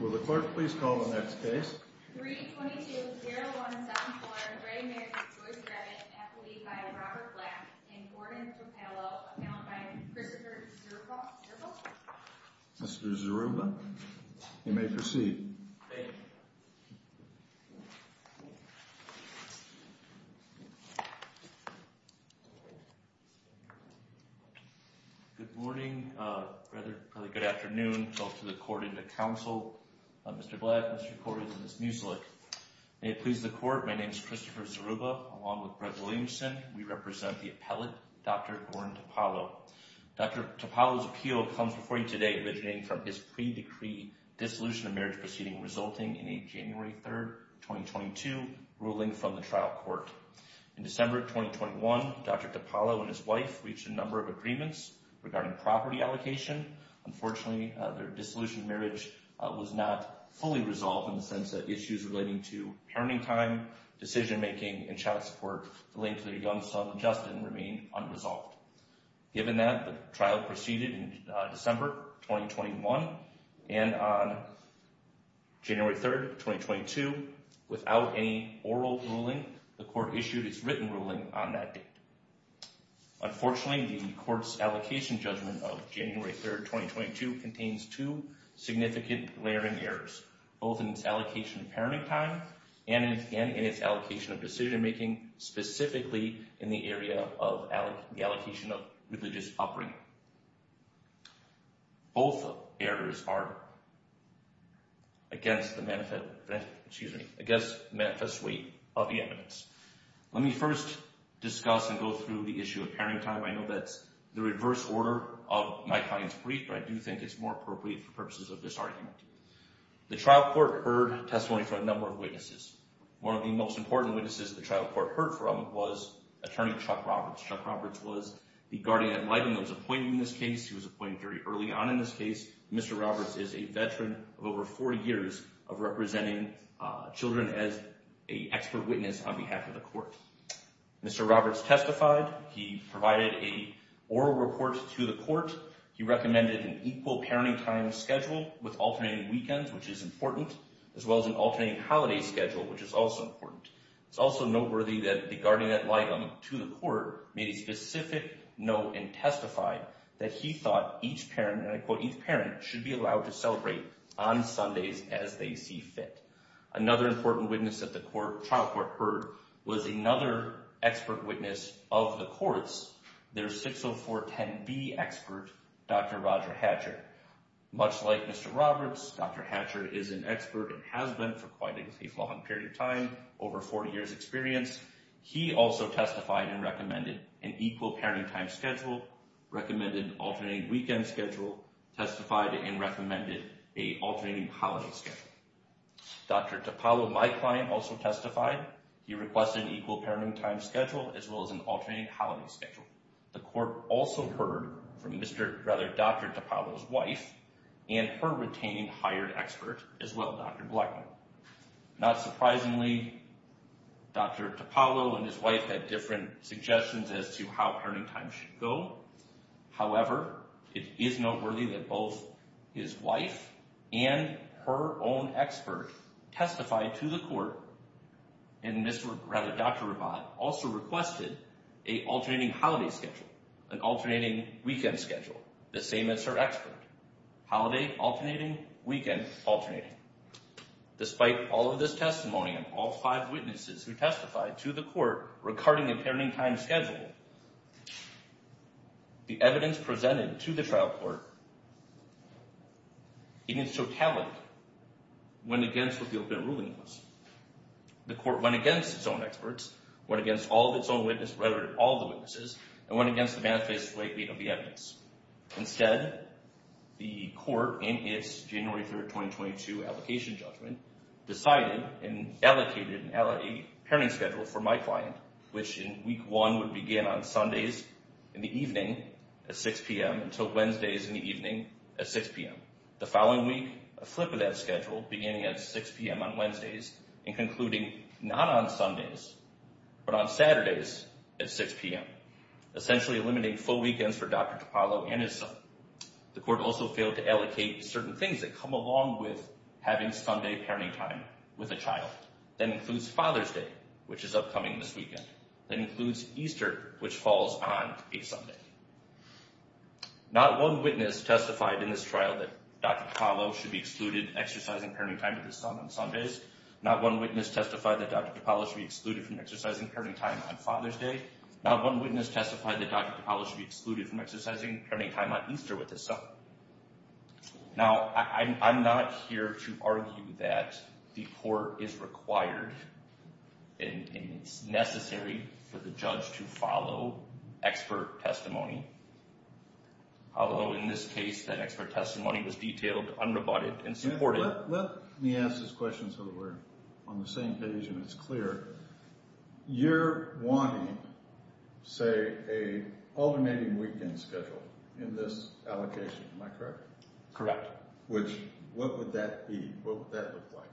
Will the clerk please call the next case? 322-0174, Ray Mary Joyce Rabbit, an affidavit by Robert Black and Gordon Topello, found by Christopher Zeruba. Mr. Zeruba, you may proceed. Thank you. Good morning, rather good afternoon, both to the court and the council. Mr. Black, Mr. Corey, and Ms. Muselich. May it please the court, my name is Christopher Zeruba, along with Brett Williamson. We represent the appellate, Dr. Gordon Topello. Dr. Topello's appeal comes before you today originating from his pre-decree dissolution of marriage proceeding resulting in a January 3, 2022, ruling from the trial court. In December 2021, Dr. Topello and his wife reached a number of agreements regarding property allocation. Unfortunately, their dissolution of marriage was not fully resolved in the sense that issues relating to parenting time, decision making, and child support relating to their young son, Justin, remained unresolved. Given that, the trial proceeded in December 2021, and on January 3, 2022, without any oral ruling, the court issued its written ruling on that date. Unfortunately, the court's allocation judgment of January 3, 2022 contains two significant layering errors, both in its allocation of parenting time and in its allocation of decision making, specifically in the area of the allocation of religious upbringing. Both errors are against the manifest weight of the evidence. Let me first discuss and go through the issue of parenting time. I know that's the reverse order of my client's brief, but I do think it's more appropriate for purposes of this argument. The trial court heard testimony from a number of witnesses. One of the most important witnesses the trial court heard from was Attorney Chuck Roberts. Chuck Roberts was the guardian at lightning that was appointed in this case. He was appointed very early on in this case. Mr. Roberts is a veteran of over 40 years of representing children as an expert witness on behalf of the court. Mr. Roberts testified. He provided an oral report to the court. He recommended an equal parenting time schedule with alternating weekends, which is important, as well as an alternating holiday schedule, which is also important. It's also noteworthy that the guardian at lightning to the court made a specific note and testified that he thought each parent, and I quote, each parent, should be allowed to celebrate on Sundays as they see fit. Another important witness that the trial court heard was another expert witness of the courts, their 60410B expert, Dr. Roger Hatcher. Much like Mr. Roberts, Dr. Hatcher is an expert and has been for quite a long period of time, over 40 years experience. He also testified and recommended an equal parenting time schedule, recommended an alternating weekend schedule, testified and recommended an alternating holiday schedule. Dr. Topalo, my client, also testified. He requested an equal parenting time schedule, as well as an alternating holiday schedule. The court also heard from Dr. Topalo's wife and her retaining hired expert as well, Dr. Blackman. Not surprisingly, Dr. Topalo and his wife had different suggestions as to how parenting time should go. However, it is noteworthy that both his wife and her own expert testified to the court, and Dr. Rabat also requested an alternating holiday schedule, an alternating weekend schedule, the same as her expert. Holiday, alternating, weekend, alternating. Despite all of this testimony and all five witnesses who testified to the court regarding a parenting time schedule, the evidence presented to the trial court, in its totality, went against what the open ruling was. The court went against its own experts, went against all of its own witnesses, and went against the manifesto weight of the evidence. Instead, the court, in its January 3, 2022, application judgment, decided and allocated a parenting schedule for my client, which in week one would begin on Sundays in the evening at 6 p.m. until Wednesdays in the evening at 6 p.m. The following week, a flip of that schedule, beginning at 6 p.m. on Wednesdays and concluding not on Sundays, but on Saturdays at 6 p.m., essentially eliminating full weekends for Dr. Topalo and his son. The court also failed to allocate certain things that come along with having Sunday parenting time with a child. That includes Father's Day, which is upcoming this weekend. That includes Easter, which falls on a Sunday. Not one witness testified in this trial that Dr. Topalo should be excluded from exercising parenting time with his son on Sundays. Not one witness testified that Dr. Topalo should be excluded from exercising parenting time on Father's Day. Not one witness testified that Dr. Topalo should be excluded from exercising parenting time on Easter with his son. Now, I'm not here to argue that the court is required and it's necessary for the judge to follow expert testimony. Although, in this case, that expert testimony was detailed, unrebutted, and supported. Let me ask this question so that we're on the same page and it's clear. You're wanting, say, an alternating weekend schedule in this allocation, am I correct? Correct. Which, what would that be? What would that look like?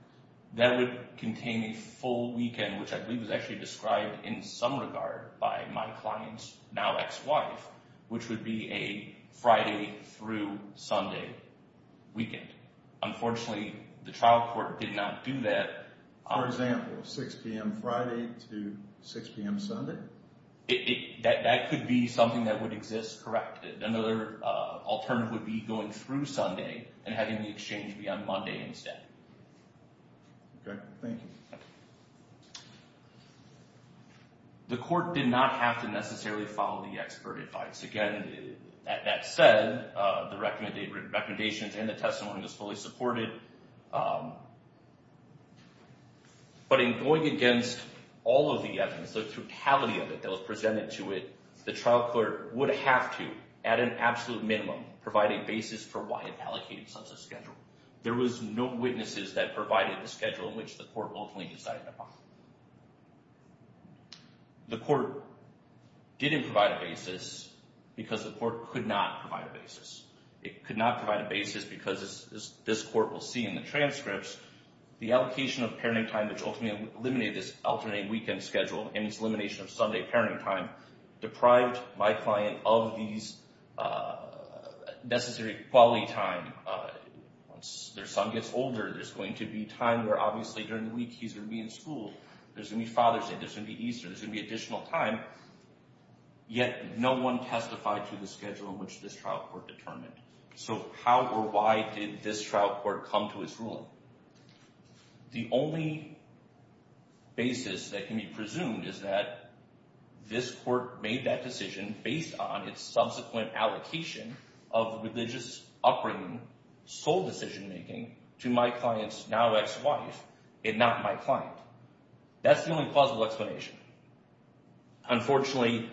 That would contain a full weekend, which I believe is actually described in some regard by my client's now ex-wife, which would be a Friday through Sunday weekend. Unfortunately, the trial court did not do that. For example, 6 p.m. Friday to 6 p.m. Sunday? That could be something that would exist, correct. Another alternative would be going through Sunday and having the exchange be on Monday instead. Okay, thank you. The court did not have to necessarily follow the expert advice. Again, that said, the recommendations and the testimony was fully supported. But in going against all of the evidence, the totality of it that was presented to it, the trial court would have to, at an absolute minimum, provide a basis for why it allocated such a schedule. There was no witnesses that provided the schedule in which the court willfully decided upon. The court didn't provide a basis because the court could not provide a basis. It could not provide a basis because, as this court will see in the transcripts, the allocation of parenting time which ultimately eliminated this alternate weekend schedule and its elimination of Sunday parenting time deprived my client of these necessary quality time. Once their son gets older, there's going to be time where obviously during the week he's going to be in school. There's going to be Father's Day, there's going to be Easter, there's going to be additional time. Yet no one testified to the schedule in which this trial court determined. So how or why did this trial court come to its ruling? The only basis that can be presumed is that this court made that decision based on its subsequent allocation of religious upbringing sole decision-making to my client's now ex-wife and not my client. That's the only plausible explanation. Unfortunately,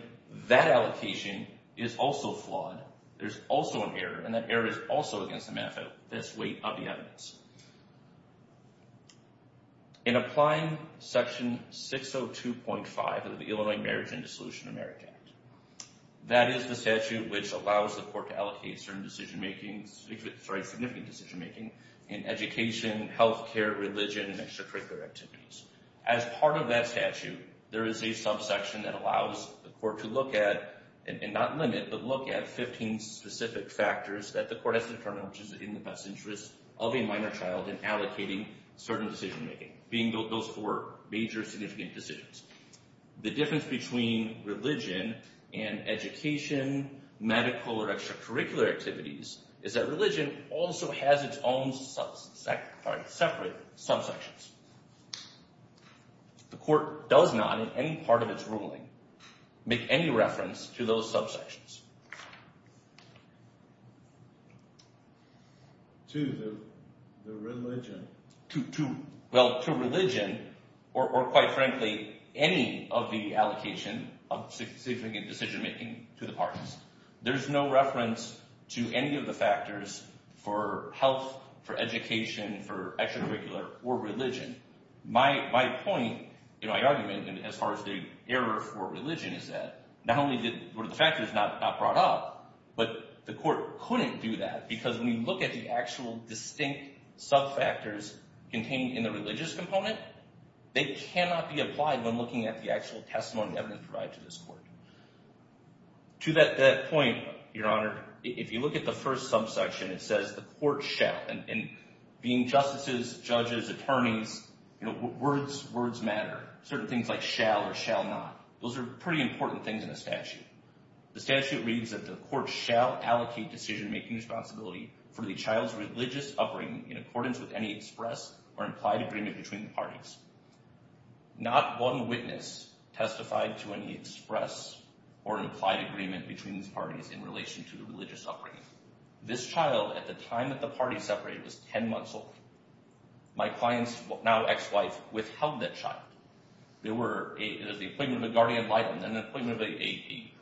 that allocation is also flawed. There's also an error, and that error is also against the benefit of this weight of the evidence. In applying Section 602.5 of the Illinois Marriage and Dissolution of Marriage Act, that is the statute which allows the court to allocate certain significant decision-making in education, health care, religion, and extracurricular activities. As part of that statute, there is a subsection that allows the court to look at, and not limit, but look at 15 specific factors that the court has to determine which is in the best interest of a minor child in allocating certain decision-making, those four major significant decisions. The difference between religion and education, medical, or extracurricular activities is that religion also has its own separate subsections. The court does not, in any part of its ruling, make any reference to those subsections. To the religion? Well, to religion, or quite frankly, any of the allocation of significant decision-making to the parties. There's no reference to any of the factors for health, for education, for extracurricular, or religion. My point, my argument as far as the error for religion is that not only were the factors not brought up, but the court couldn't do that because when you look at the actual distinct subfactors contained in the religious component, they cannot be applied when looking at the actual testimony and evidence provided to this court. To that point, Your Honor, if you look at the first subsection, it says the court shall, and being justices, judges, attorneys, words matter. Certain things like shall or shall not, those are pretty important things in a statute. The statute reads that the court shall allocate decision-making responsibility for the child's religious upbringing in accordance with any express or implied agreement between the parties. Not one witness testified to any express or implied agreement between these parties in relation to the religious upbringing. This child, at the time that the party separated, was 10 months old. My client's now ex-wife withheld that child. There was the appointment of a guardian of light and an appointment of a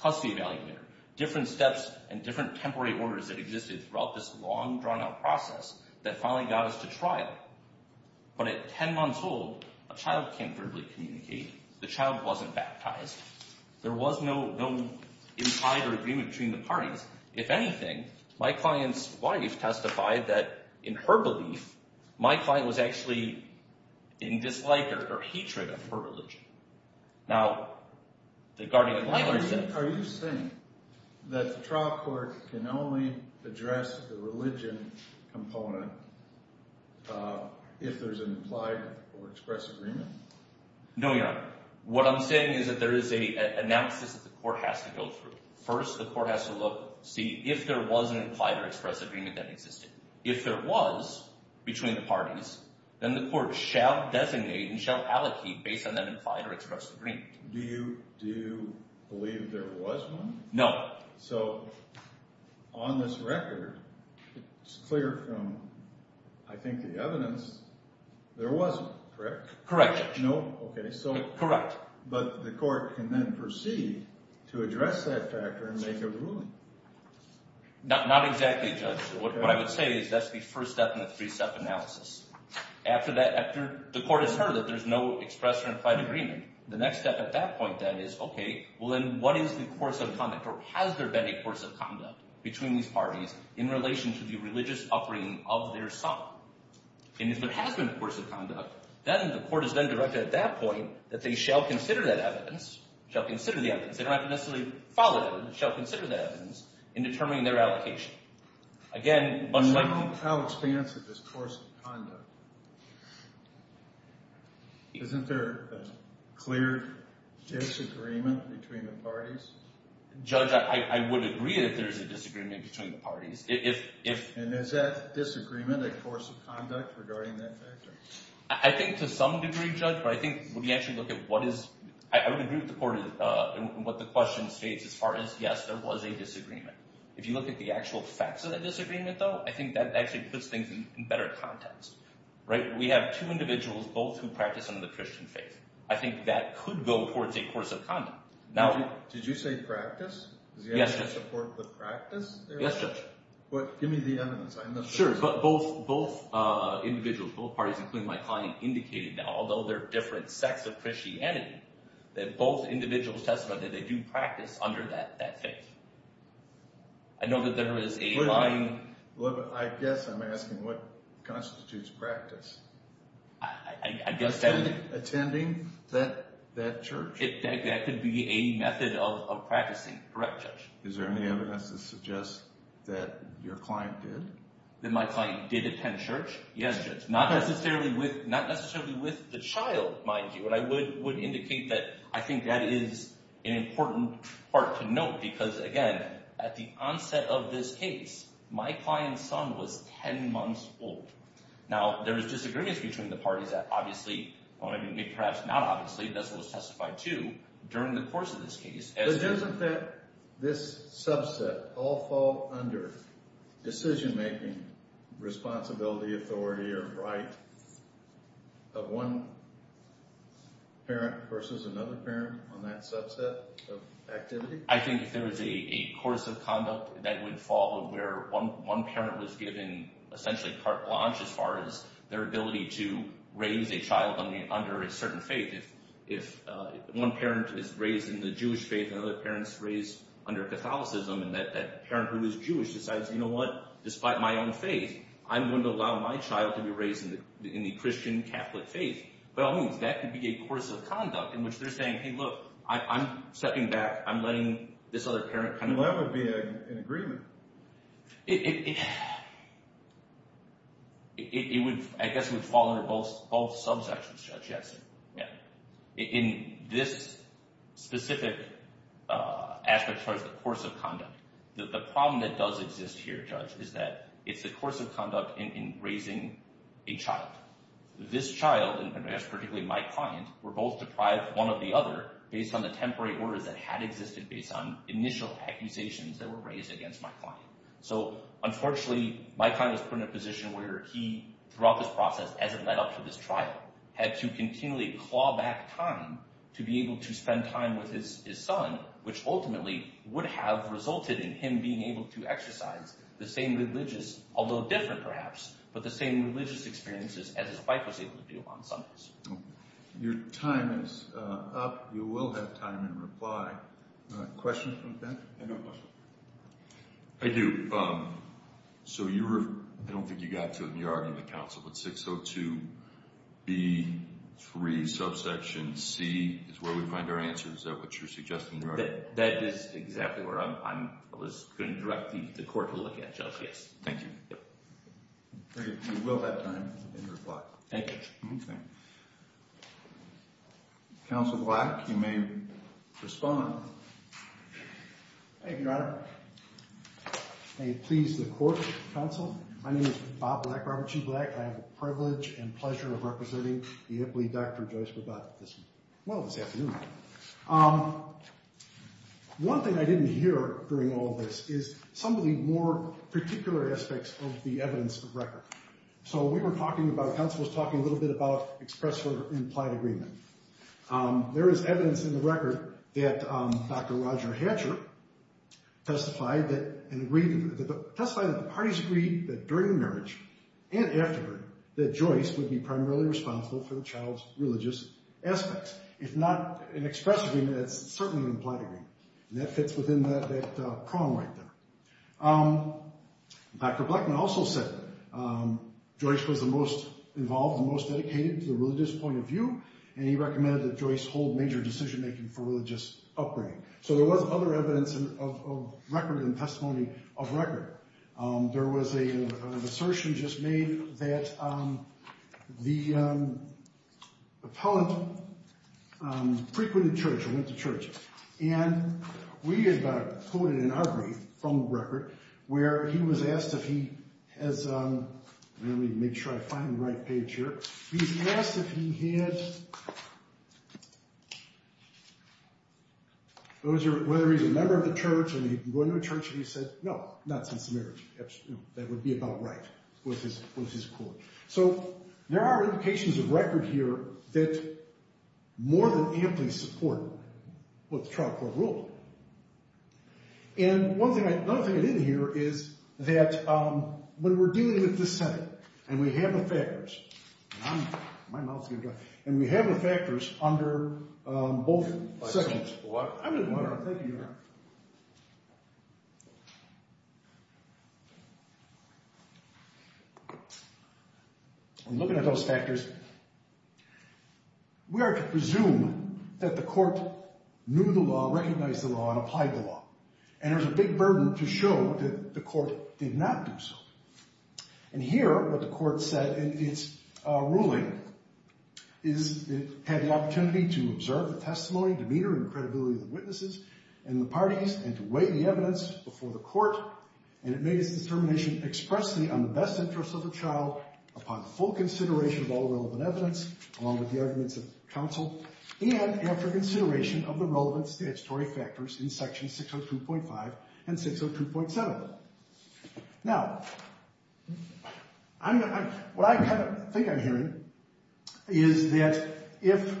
custody evaluator. Different steps and different temporary orders that existed throughout this long, drawn-out process that finally got us to trial. But at 10 months old, a child can't verbally communicate. The child wasn't baptized. There was no implied agreement between the parties. If anything, my client's wife testified that, in her belief, my client was actually in dislike or hatred of her religion. Now, the guardian of light... Are you saying that the trial court can only address the religion component if there's an implied or express agreement? No, Your Honor. What I'm saying is that there is an analysis that the court has to go through. First, the court has to look, see if there was an implied or express agreement that existed. If there was, between the parties, then the court shall designate and shall allocate based on that implied or express agreement. Do you believe there was one? No. So, on this record, it's clear from, I think, the evidence, there wasn't, correct? Correct, Judge. No, okay, so... Correct. But the court can then proceed to address that factor and make a ruling. Not exactly, Judge. What I would say is that's the first step in the three-step analysis. After that, the court has heard that there's no express or implied agreement. The next step at that point, then, is, okay, well, then, what is the course of conduct, or has there been a course of conduct between these parties in relation to the religious upbringing of their son? And if there has been a course of conduct, then the court is then directed at that point that they shall consider that evidence, shall consider the evidence. They don't have to necessarily follow that evidence. They shall consider that evidence in determining their allocation. Again, much like... How expansive is course of conduct? Isn't there a clear disagreement between the parties? And is that disagreement a course of conduct regarding that factor? I think to some degree, Judge, but I think when we actually look at what is... I would agree with the court in what the question states as far as, yes, there was a disagreement. If you look at the actual facts of that disagreement, though, I think that actually puts things in better context. Right? We have two individuals, both who practice under the Christian faith. I think that could go towards a course of conduct. Did you say practice? Yes, Judge. Does the evidence support the practice there? Yes, Judge. Give me the evidence. Sure. Both individuals, both parties, including my client, indicated that although there are different sects of Christianity, that both individuals testified that they do practice under that faith. I know that there is a line... I guess I'm asking what constitutes practice. I guess that... Attending that church? That could be a method of practicing. Correct, Judge. Is there any evidence that suggests that your client did? That my client did attend church? Yes, Judge. Not necessarily with the child, mind you, but I would indicate that I think that is an important part to note because, again, at the onset of this case, my client's son was 10 months old. Now, there was disagreements between the parties that obviously... I mean, perhaps not obviously, but that's what was testified to during the course of this case. But doesn't this subset all fall under decision-making, responsibility, authority, or right of one parent versus another parent on that subset of activity? I think if there was a course of conduct that would follow where one parent was given essentially part blanche as far as their ability to raise a child under a certain faith, if one parent is raised in the Jewish faith and another parent is raised under Catholicism and that parent who is Jewish decides, you know what, despite my own faith, I'm going to allow my child to be raised in the Christian Catholic faith, by all means, that could be a course of conduct in which they're saying, hey, look, I'm stepping back, I'm letting this other parent kind of... Well, that would be an agreement. It would, I guess, would fall under both subsections, Judge Jackson. In this specific aspect as far as the course of conduct, the problem that does exist here, Judge, is that it's the course of conduct in raising a child. This child, and I guess particularly my client, were both deprived of one or the other based on the temporary orders that had existed based on initial accusations that were raised against my client. So, unfortunately, my client was put in a position where he, throughout this process, as it led up to this trial, had to continually claw back time to be able to spend time with his son, which ultimately would have resulted in him being able to exercise the same religious, although different perhaps, but the same religious experiences as his wife was able to do on Sundays. Your time is up. You will have time in reply. Questions from the panel? I do. So you were, I don't think you got to in the argument, Counsel, but 602B3 subsection C is where we find our answers. Is that what you're suggesting? That is exactly where I was going to direct the court to look at, Judge, yes. Thank you. You will have time in reply. Thank you. Counsel Black, you may respond. Thank you, Your Honor. May it please the Court, Counsel, my name is Bob Black, Robert G. Black. I have the privilege and pleasure of representing the Ipley Dr. Joyce Rabat this afternoon. One thing I didn't hear during all this is some of the more particular aspects of the evidence of record. So we were talking about, Counsel was talking a little bit about express or implied agreement. There is evidence in the record that Dr. Roger Hatcher testified that the parties agreed that during marriage and after marriage that Joyce would be primarily responsible for the child's religious aspects. If not an express agreement, it's certainly an implied agreement, and that fits within that prong right there. Dr. Blackman also said Joyce was the most involved and most dedicated to the religious point of view, and he recommended that Joyce hold major decision-making for religious upbringing. So there was other evidence of record and testimony of record. There was an assertion just made that the appellant frequented church or went to church, and we have quoted in our brief from the record where he was asked if he has, let me make sure I find the right page here, he was asked if he had, whether he's a member of the church and he'd been going to a church, and he said, no, not since marriage, that would be about right, was his quote. So there are indications of record here that more than amply support what the trial court ruled. And one thing I didn't hear is that when we're dealing with the Senate and we have the factors, my mouth's getting dry, and we have the factors under both sections. I'm looking at those factors. We are to presume that the court knew the law, recognized the law, and applied the law, and there's a big burden to show that the court did not do so. And here what the court said in its ruling is it had the opportunity to observe the testimony, to meter in credibility the witnesses and the parties, and to weigh the evidence before the court, and it made its determination expressly on the best interest of the child upon full consideration of all relevant evidence, along with the arguments of counsel, and after consideration of the relevant statutory factors in sections 602.5 and 602.7. Now, what I kind of think I'm hearing is that if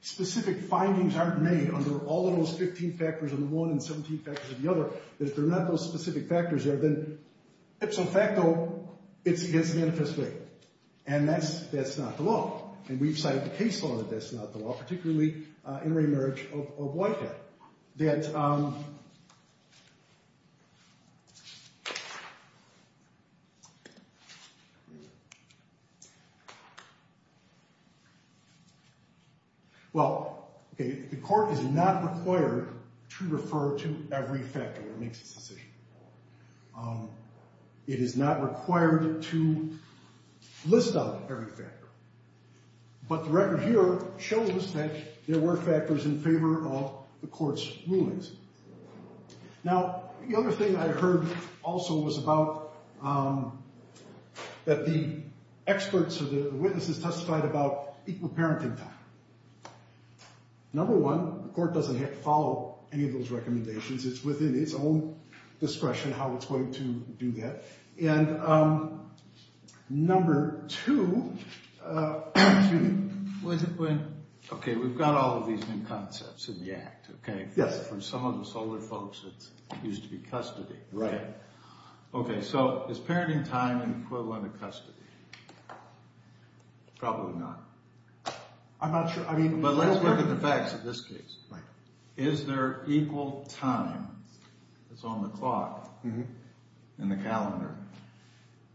specific findings aren't made under all of those 15 factors under one and 17 factors under the other, that if there are not those specific factors there, then ipso facto it's against the manifest way, and that's not the law. And we've cited the case law that that's not the law, particularly in remarriage of Whitehead. That, well, okay, the court is not required to refer to every factor that makes this decision. It is not required to list out every factor. But the record here shows that there were factors in favor of the court's rulings. Now, the other thing I heard also was about that the experts or the witnesses testified about equal parenting time. Number one, the court doesn't have to follow any of those recommendations. It's within its own discretion how it's going to do that. And number two, okay, we've got all of these new concepts in the Act, okay? Yes. From some of the solar folks that used to be custody. Right. Okay, so is parenting time an equivalent of custody? Probably not. I'm not sure. But let's look at the facts in this case. Right. Is there equal time that's on the clock in the calendar?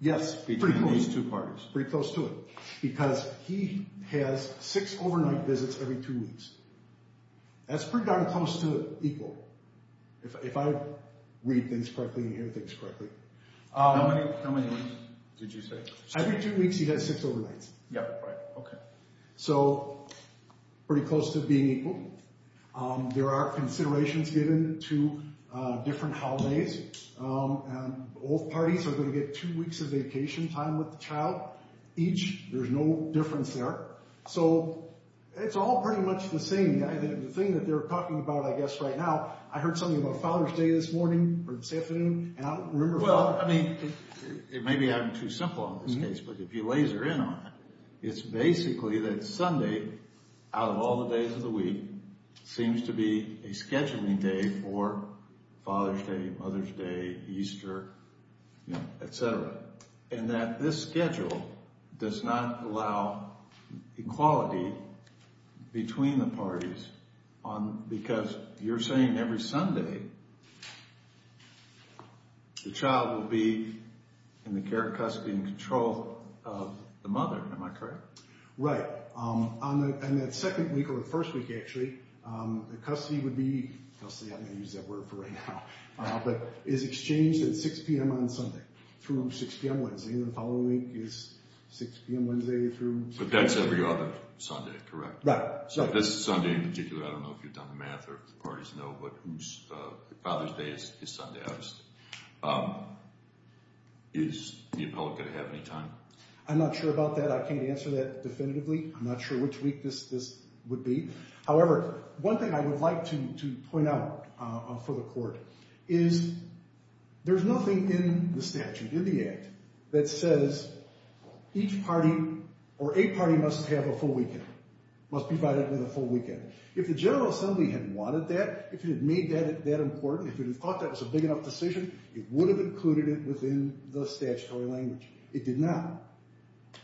Yes, pretty close. Between these two parties. Pretty close to it. Because he has six overnight visits every two weeks. That's pretty darn close to equal, if I read things correctly and hear things correctly. How many weeks did you say? Every two weeks he has six overnights. Yeah, right, okay. So pretty close to being equal. There are considerations given to different holidays. Both parties are going to get two weeks of vacation time with the child each. There's no difference there. So it's all pretty much the same. The thing that they're talking about, I guess, right now, I heard something about Father's Day this morning or this afternoon, and I don't remember Father's Day. Well, I mean, it may be too simple in this case, but if you laser in on it, it's basically that Sunday, out of all the days of the week, seems to be a scheduling day for Father's Day, Mother's Day, Easter, et cetera, and that this schedule does not allow equality between the parties because you're saying every Sunday the child will be in the care, custody, and control of the mother. Am I correct? Right. And that second week or the first week, actually, the custody would be, custody, I'm going to use that word for right now, but is exchanged at 6 p.m. on Sunday through 6 p.m. Wednesday, and the following week is 6 p.m. Wednesday through 6 p.m. But that's every other Sunday, correct? Right. So this Sunday in particular, I don't know if you've done the math or if the parties know, but Father's Day is Sunday, obviously. Is the appellate going to have any time? I'm not sure about that. I can't answer that definitively. I'm not sure which week this would be. However, one thing I would like to point out for the Court is there's nothing in the statute, in the Act, that says each party or a party must have a full weekend, must be provided with a full weekend. If the General Assembly had wanted that, if it had made that important, if it had thought that was a big enough decision, it would have included it within the statutory language. It did not.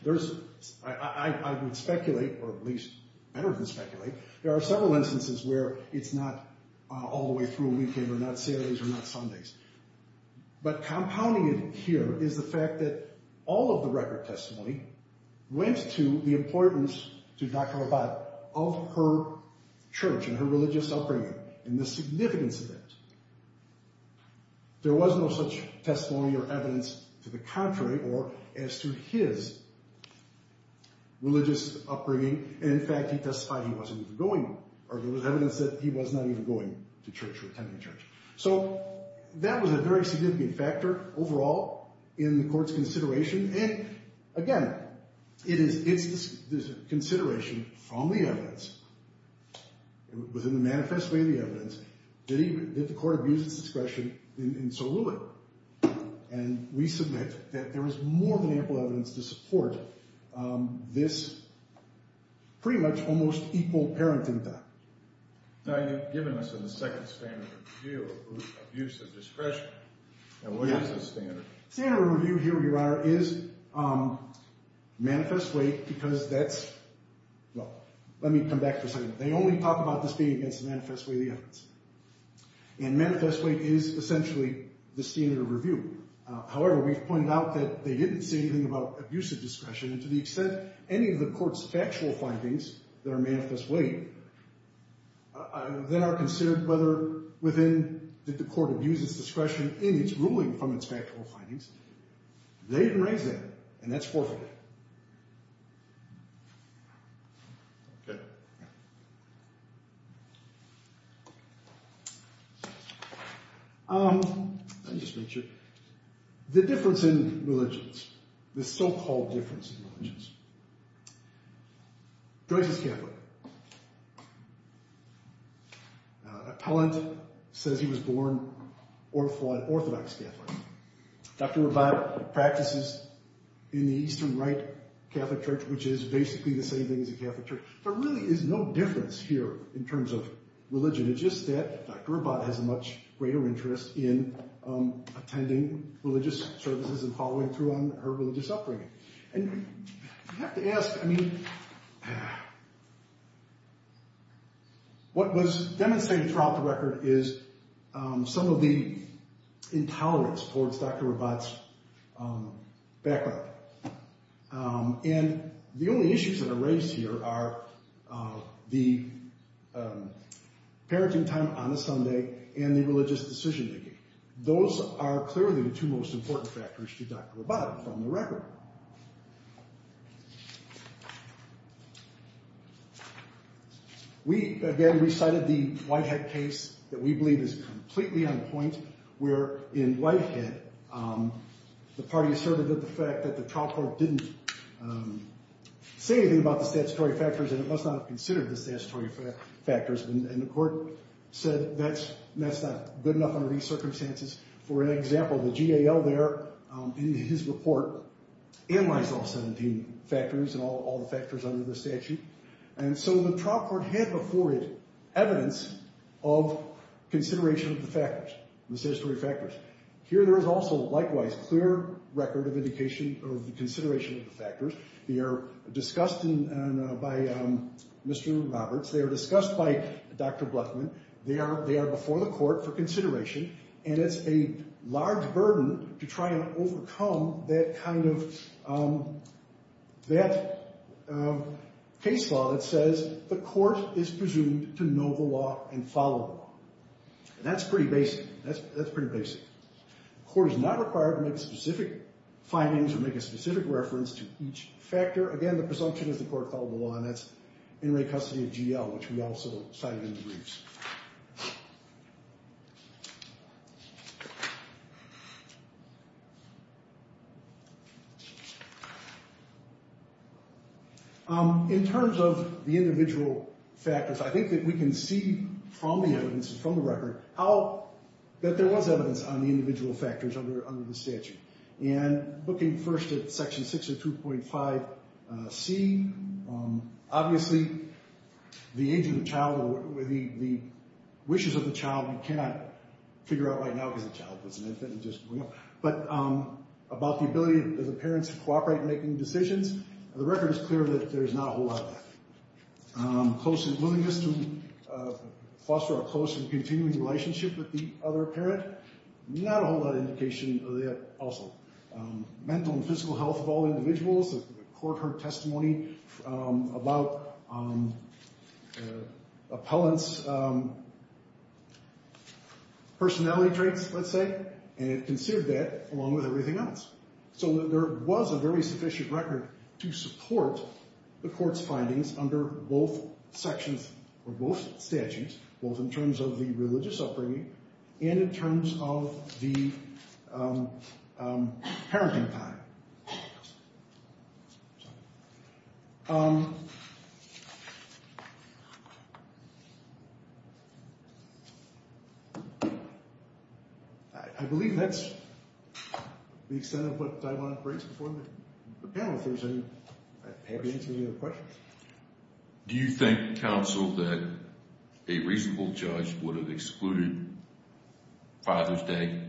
I would speculate, or at least better than speculate, there are several instances where it's not all the way through a weekend or not Saturdays or not Sundays. But compounding it here is the fact that all of the record testimony went to the importance to Dr. Rabat of her church and her religious upbringing and the significance of that. There was no such testimony or evidence to the contrary or as to his religious upbringing. And, in fact, he testified he wasn't even going, or there was evidence that he was not even going to church or attending church. So that was a very significant factor overall in the Court's consideration. And, again, it is this consideration from the evidence within the manifest way of the evidence, did the Court abuse its discretion and so rule it? And we submit that there is more than ample evidence to support this pretty much almost equal parenting time. Now, you've given us in the second standard review abuse of discretion. Now, what is the standard? The standard review here, Your Honor, is manifest way because that's Well, let me come back for a second. They only talk about this being against the manifest way of the evidence. And manifest way is essentially the standard review. However, we've pointed out that they didn't say anything about abuse of discretion and to the extent any of the Court's factual findings that are manifest way that are considered whether within that the Court abuses discretion in its ruling from its factual findings, they didn't raise that, and that's forfeited. Okay. Let me just make sure. The difference in religions, the so-called difference in religions. Joyce is Catholic. Appellant says he was born Orthodox Catholic. Dr. Rabat practices in the Eastern Rite Catholic Church, which is basically the same thing as a Catholic church. There really is no difference here in terms of religion. It's just that Dr. Rabat has a much greater interest in attending religious services and following through on her religious upbringing. And you have to ask, I mean, what was demonstrated throughout the record is some of the intolerance towards Dr. Rabat's background. And the only issues that are raised here are the parenting time on a Sunday and the religious decision-making. Those are clearly the two most important factors to Dr. Rabat from the record. We, again, recited the Whitehead case that we believe is completely on point, where in Whitehead, the party asserted that the fact that the trial court didn't say anything about the statutory factors and it must not have considered the statutory factors, and the court said that's not good enough under these circumstances. For an example, the GAL there, in his report, analyzed all 17 factors and all the factors under the statute. And so the trial court had before it evidence of consideration of the factors, the statutory factors. Here there is also, likewise, clear record of indication of consideration of the factors. They are discussed by Mr. Roberts. They are discussed by Dr. Bluffman. They are before the court for consideration, and it's a large burden to try and overcome that case law that says the court is presumed to know the law and follow the law. And that's pretty basic. That's pretty basic. The court is not required to make specific findings or make a specific reference to each factor. Again, the presumption is the court follow the law, and that's in re-custody of GAL, which we also cited in the briefs. In terms of the individual factors, I think that we can see from the evidence, from the record, that there was evidence on the individual factors under the statute. And looking first at Section 602.5c, obviously the age of the child, the wishes of the child, you cannot figure out right now because the child was an infant and just grew up. But about the ability of the parents to cooperate in making decisions, the record is clear that there is not a whole lot of that. Close and willingness to foster a close and continuing relationship with the other parent, not a whole lot of indication of that also. Mental and physical health of all individuals, the court heard testimony about appellant's personality traits, let's say, and it considered that along with everything else. So there was a very sufficient record to support the court's findings under both statutes, both in terms of the religious upbringing and in terms of the parenting time. I believe that's the extent of what I wanted to bring to the panel. I'm happy to answer any other questions. Do you think, counsel, that a reasonable judge would have excluded Father's Day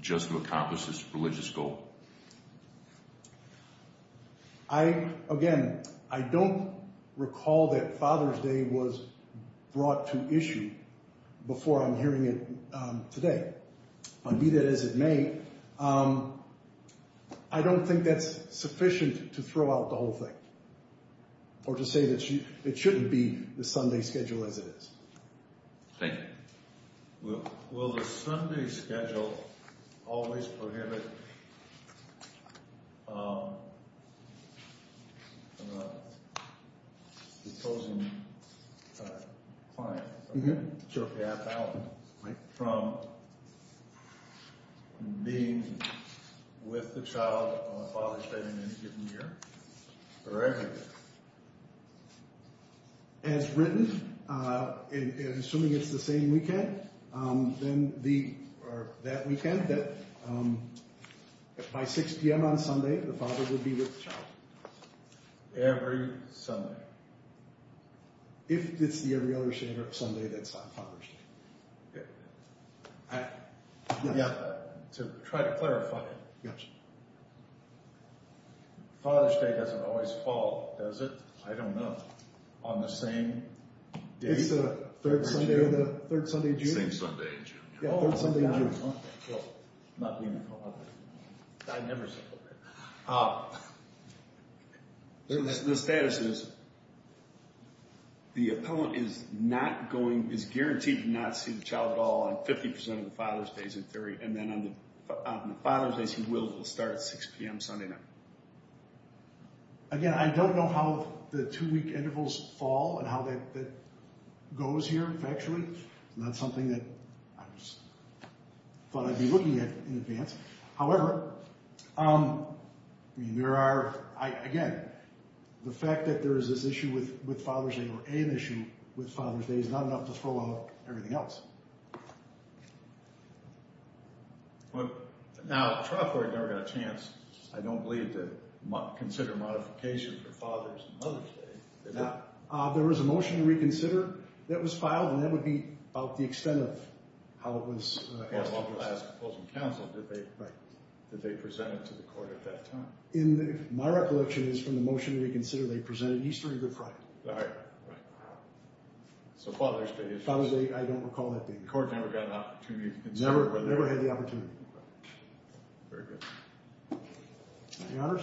just to accomplish this religious goal? Again, I don't recall that Father's Day was brought to issue before I'm hearing it today. Be that as it may, I don't think that's sufficient to throw out the whole thing or to say that it shouldn't be the Sunday schedule as it is. Thank you. Will the Sunday schedule always prohibit the chosen client, the appellant, from being with the child on Father's Day in any given year or every year? As written, assuming it's the same weekend or that weekend, that by 6 p.m. on Sunday the father would be with the child. Every Sunday? If it's the every other Sunday, that's not Father's Day. To try to clarify, Father's Day doesn't always fall, does it? I don't know. On the same day? It's the third Sunday of June. Same Sunday in June. Yeah, third Sunday in June. The status is the appellant is guaranteed to not see the child at all on 50% of the Father's Days in theory, and then on the Father's Days he will start at 6 p.m. Sunday night. Again, I don't know how the two-week intervals fall and how that goes here factually. It's not something that I thought I'd be looking at in advance. However, there are, again, the fact that there is this issue with Father's Day or an issue with Father's Day is not enough to throw off everything else. Now, the trial court never got a chance, I don't believe, to consider a modification for Father's and Mother's Day, did it? There was a motion to reconsider that was filed, and that would be about the extent of how it was proposed. And along the last opposing counsel, did they present it to the court at that time? My recollection is from the motion to reconsider, they presented Easter and Good Friday. Right, right. So Father's Day is— Father's Day, I don't recall that being— The court never got an opportunity to consider— Never had the opportunity. Very good. Any others?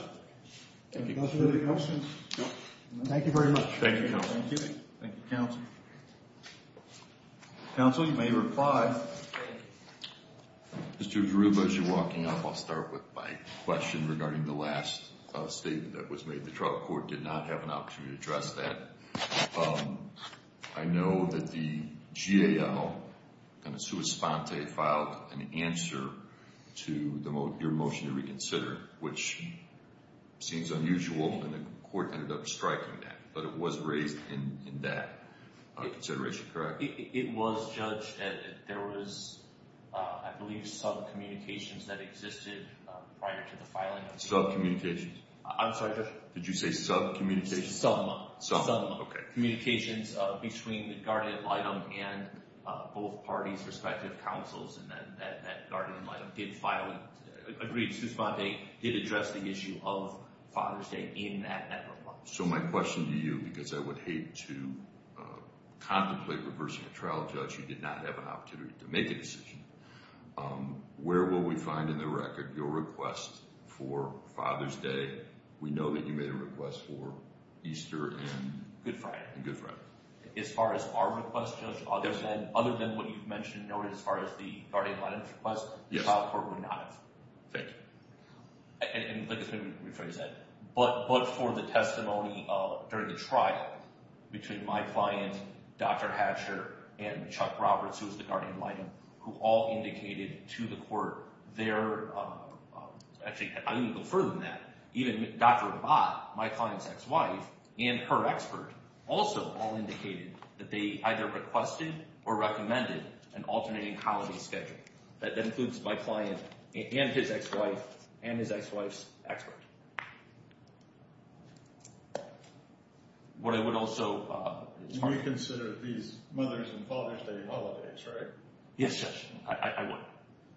Thank you, counsel. Any other questions? No. Thank you very much. Thank you, counsel. Thank you. Thank you, counsel. Counsel, you may reply. Mr. Garuba, as you're walking up, I'll start with my question regarding the last statement that was made. The trial court did not have an opportunity to address that. I know that the GAO, kind of sua sponte, filed an answer to your motion to reconsider, which seems unusual, and the court ended up striking that. But it was raised in that consideration, correct? It was, Judge. There was, I believe, subcommunications that existed prior to the filing. Subcommunications? I'm sorry, Judge. Did you say subcommunications? Subcommunications. Okay. Between the guardian ad litem and both parties' respective counsels, and that guardian ad litem did agree to sua sponte, did address the issue of Father's Day in that reply. So my question to you, because I would hate to contemplate reversing a trial, Judge, you did not have an opportunity to make a decision. Where will we find in the record your request for Father's Day? We know that you made a request for Easter and Good Friday. As far as our request, Judge, other than what you've mentioned as far as the guardian ad litem request, the trial court would not have. Thank you. And let me rephrase that. But for the testimony during the trial between my client, Dr. Hatcher, and Chuck Roberts, who was the guardian ad litem, who all indicated to the court their, actually I'm going to go further than that, even Dr. Abbott, my client's ex-wife, and her expert, also all indicated that they either requested or recommended an alternating holiday schedule. That includes my client and his ex-wife and his ex-wife's expert. What I would also. Reconsider these Mother's and Father's Day holidays, right? Yes, Judge. I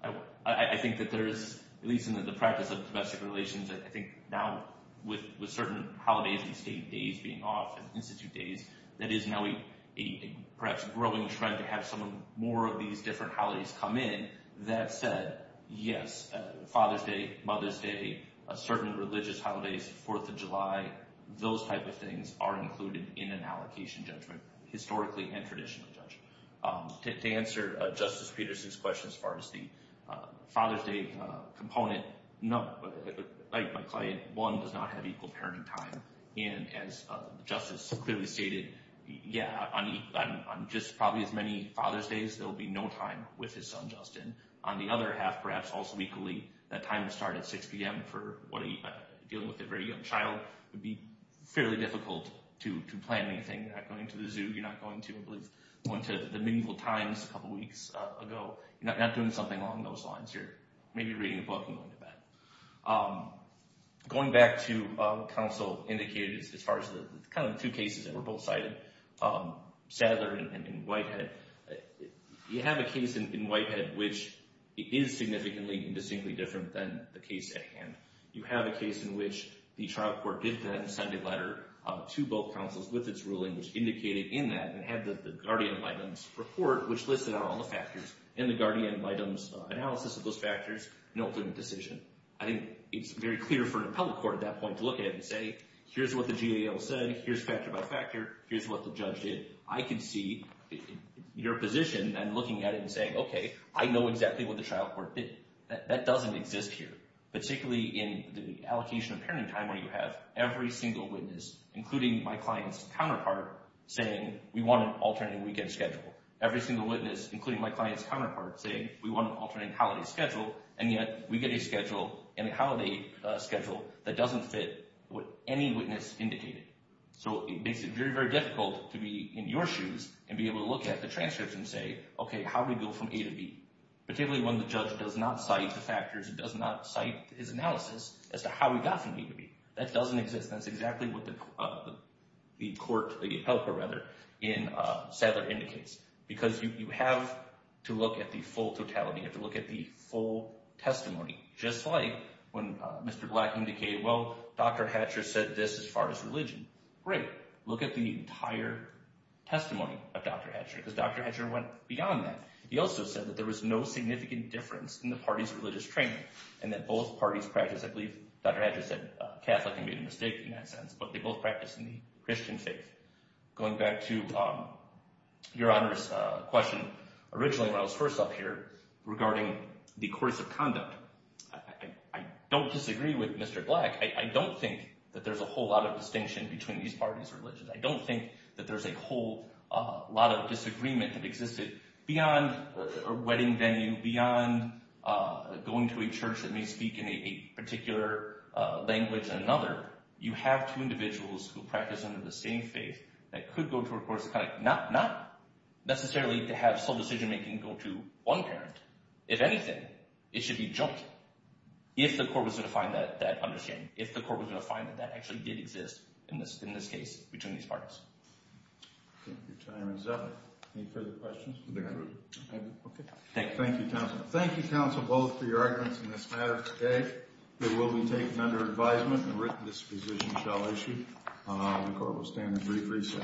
would. I think that there is, at least in the practice of domestic relations, I think now with certain holidays and state days being off, and institute days, that is now a perhaps growing trend to have some more of these different holidays come in that said, yes, Father's Day, Mother's Day, certain religious holidays, Fourth of July, those type of things are included in an allocation judgment, historically and traditionally, Judge. To answer Justice Peterson's question as far as the Father's Day component, like my client, one does not have equal parenting time, and as Justice clearly stated, yeah, on just probably as many Father's Days, there will be no time with his son, Justin. On the other half, perhaps also equally, that time to start at 6 p.m. for dealing with a very young child would be fairly difficult to plan anything. You're not going to the zoo. You're not going to, I believe, going to the meaningful times a couple weeks ago. You're not doing something along those lines. You're maybe reading a book and going to bed. Going back to counsel indicated as far as the kind of two cases that were both cited, Sadler and Whitehead, you have a case in Whitehead which is significantly and distinctly different than the case at hand. You have a case in which the trial court did then send a letter to both counsels with its ruling which indicated in that and had the guardian of items report which listed out all the factors and the guardian of items analysis of those factors, no clear decision. I think it's very clear for an appellate court at that point to look at it and say, here's what the GAO said, here's factor by factor, here's what the judge did. I can see your position and looking at it and saying, okay, I know exactly what the trial court did. That doesn't exist here, particularly in the allocation of parenting time where you have every single witness, including my client's counterpart, saying we want an alternating weekend schedule. Every single witness, including my client's counterpart, saying we want an alternating holiday schedule, and yet we get a schedule and a holiday schedule that doesn't fit what any witness indicated. So it makes it very, very difficult to be in your shoes and be able to look at the transcripts and say, okay, how do we go from A to B, particularly when the judge does not cite the factors, does not cite his analysis as to how we got from A to B. That doesn't exist. That's exactly what the court, the appellate court rather, in Sadler indicates. Because you have to look at the full totality. You have to look at the full testimony. Just like when Mr. Black indicated, well, Dr. Hatcher said this as far as religion. Great, look at the entire testimony of Dr. Hatcher because Dr. Hatcher went beyond that. He also said that there was no significant difference in the parties' religious training and that both parties practiced, I believe Dr. Hatcher said Catholic and made a mistake in that sense, but they both practiced in the Christian faith. Going back to Your Honor's question originally when I was first up here regarding the course of conduct, I don't disagree with Mr. Black. I don't think that there's a whole lot of distinction between these parties' religions. I don't think that there's a whole lot of disagreement that existed beyond a wedding venue, beyond going to a church that may speak in a particular language or another. You have two individuals who practice under the same faith that could go to a course of conduct. Not necessarily to have some decision-making go to one parent. If anything, it should be jumped if the court was going to find that understanding, if the court was going to find that that actually did exist in this case between these parties. Your time is up. Any further questions? Thank you, counsel. Thank you, counsel, both for your arguments in this matter today. It will be taken under advisement and written disposition shall issue. The court will stand in brief recess.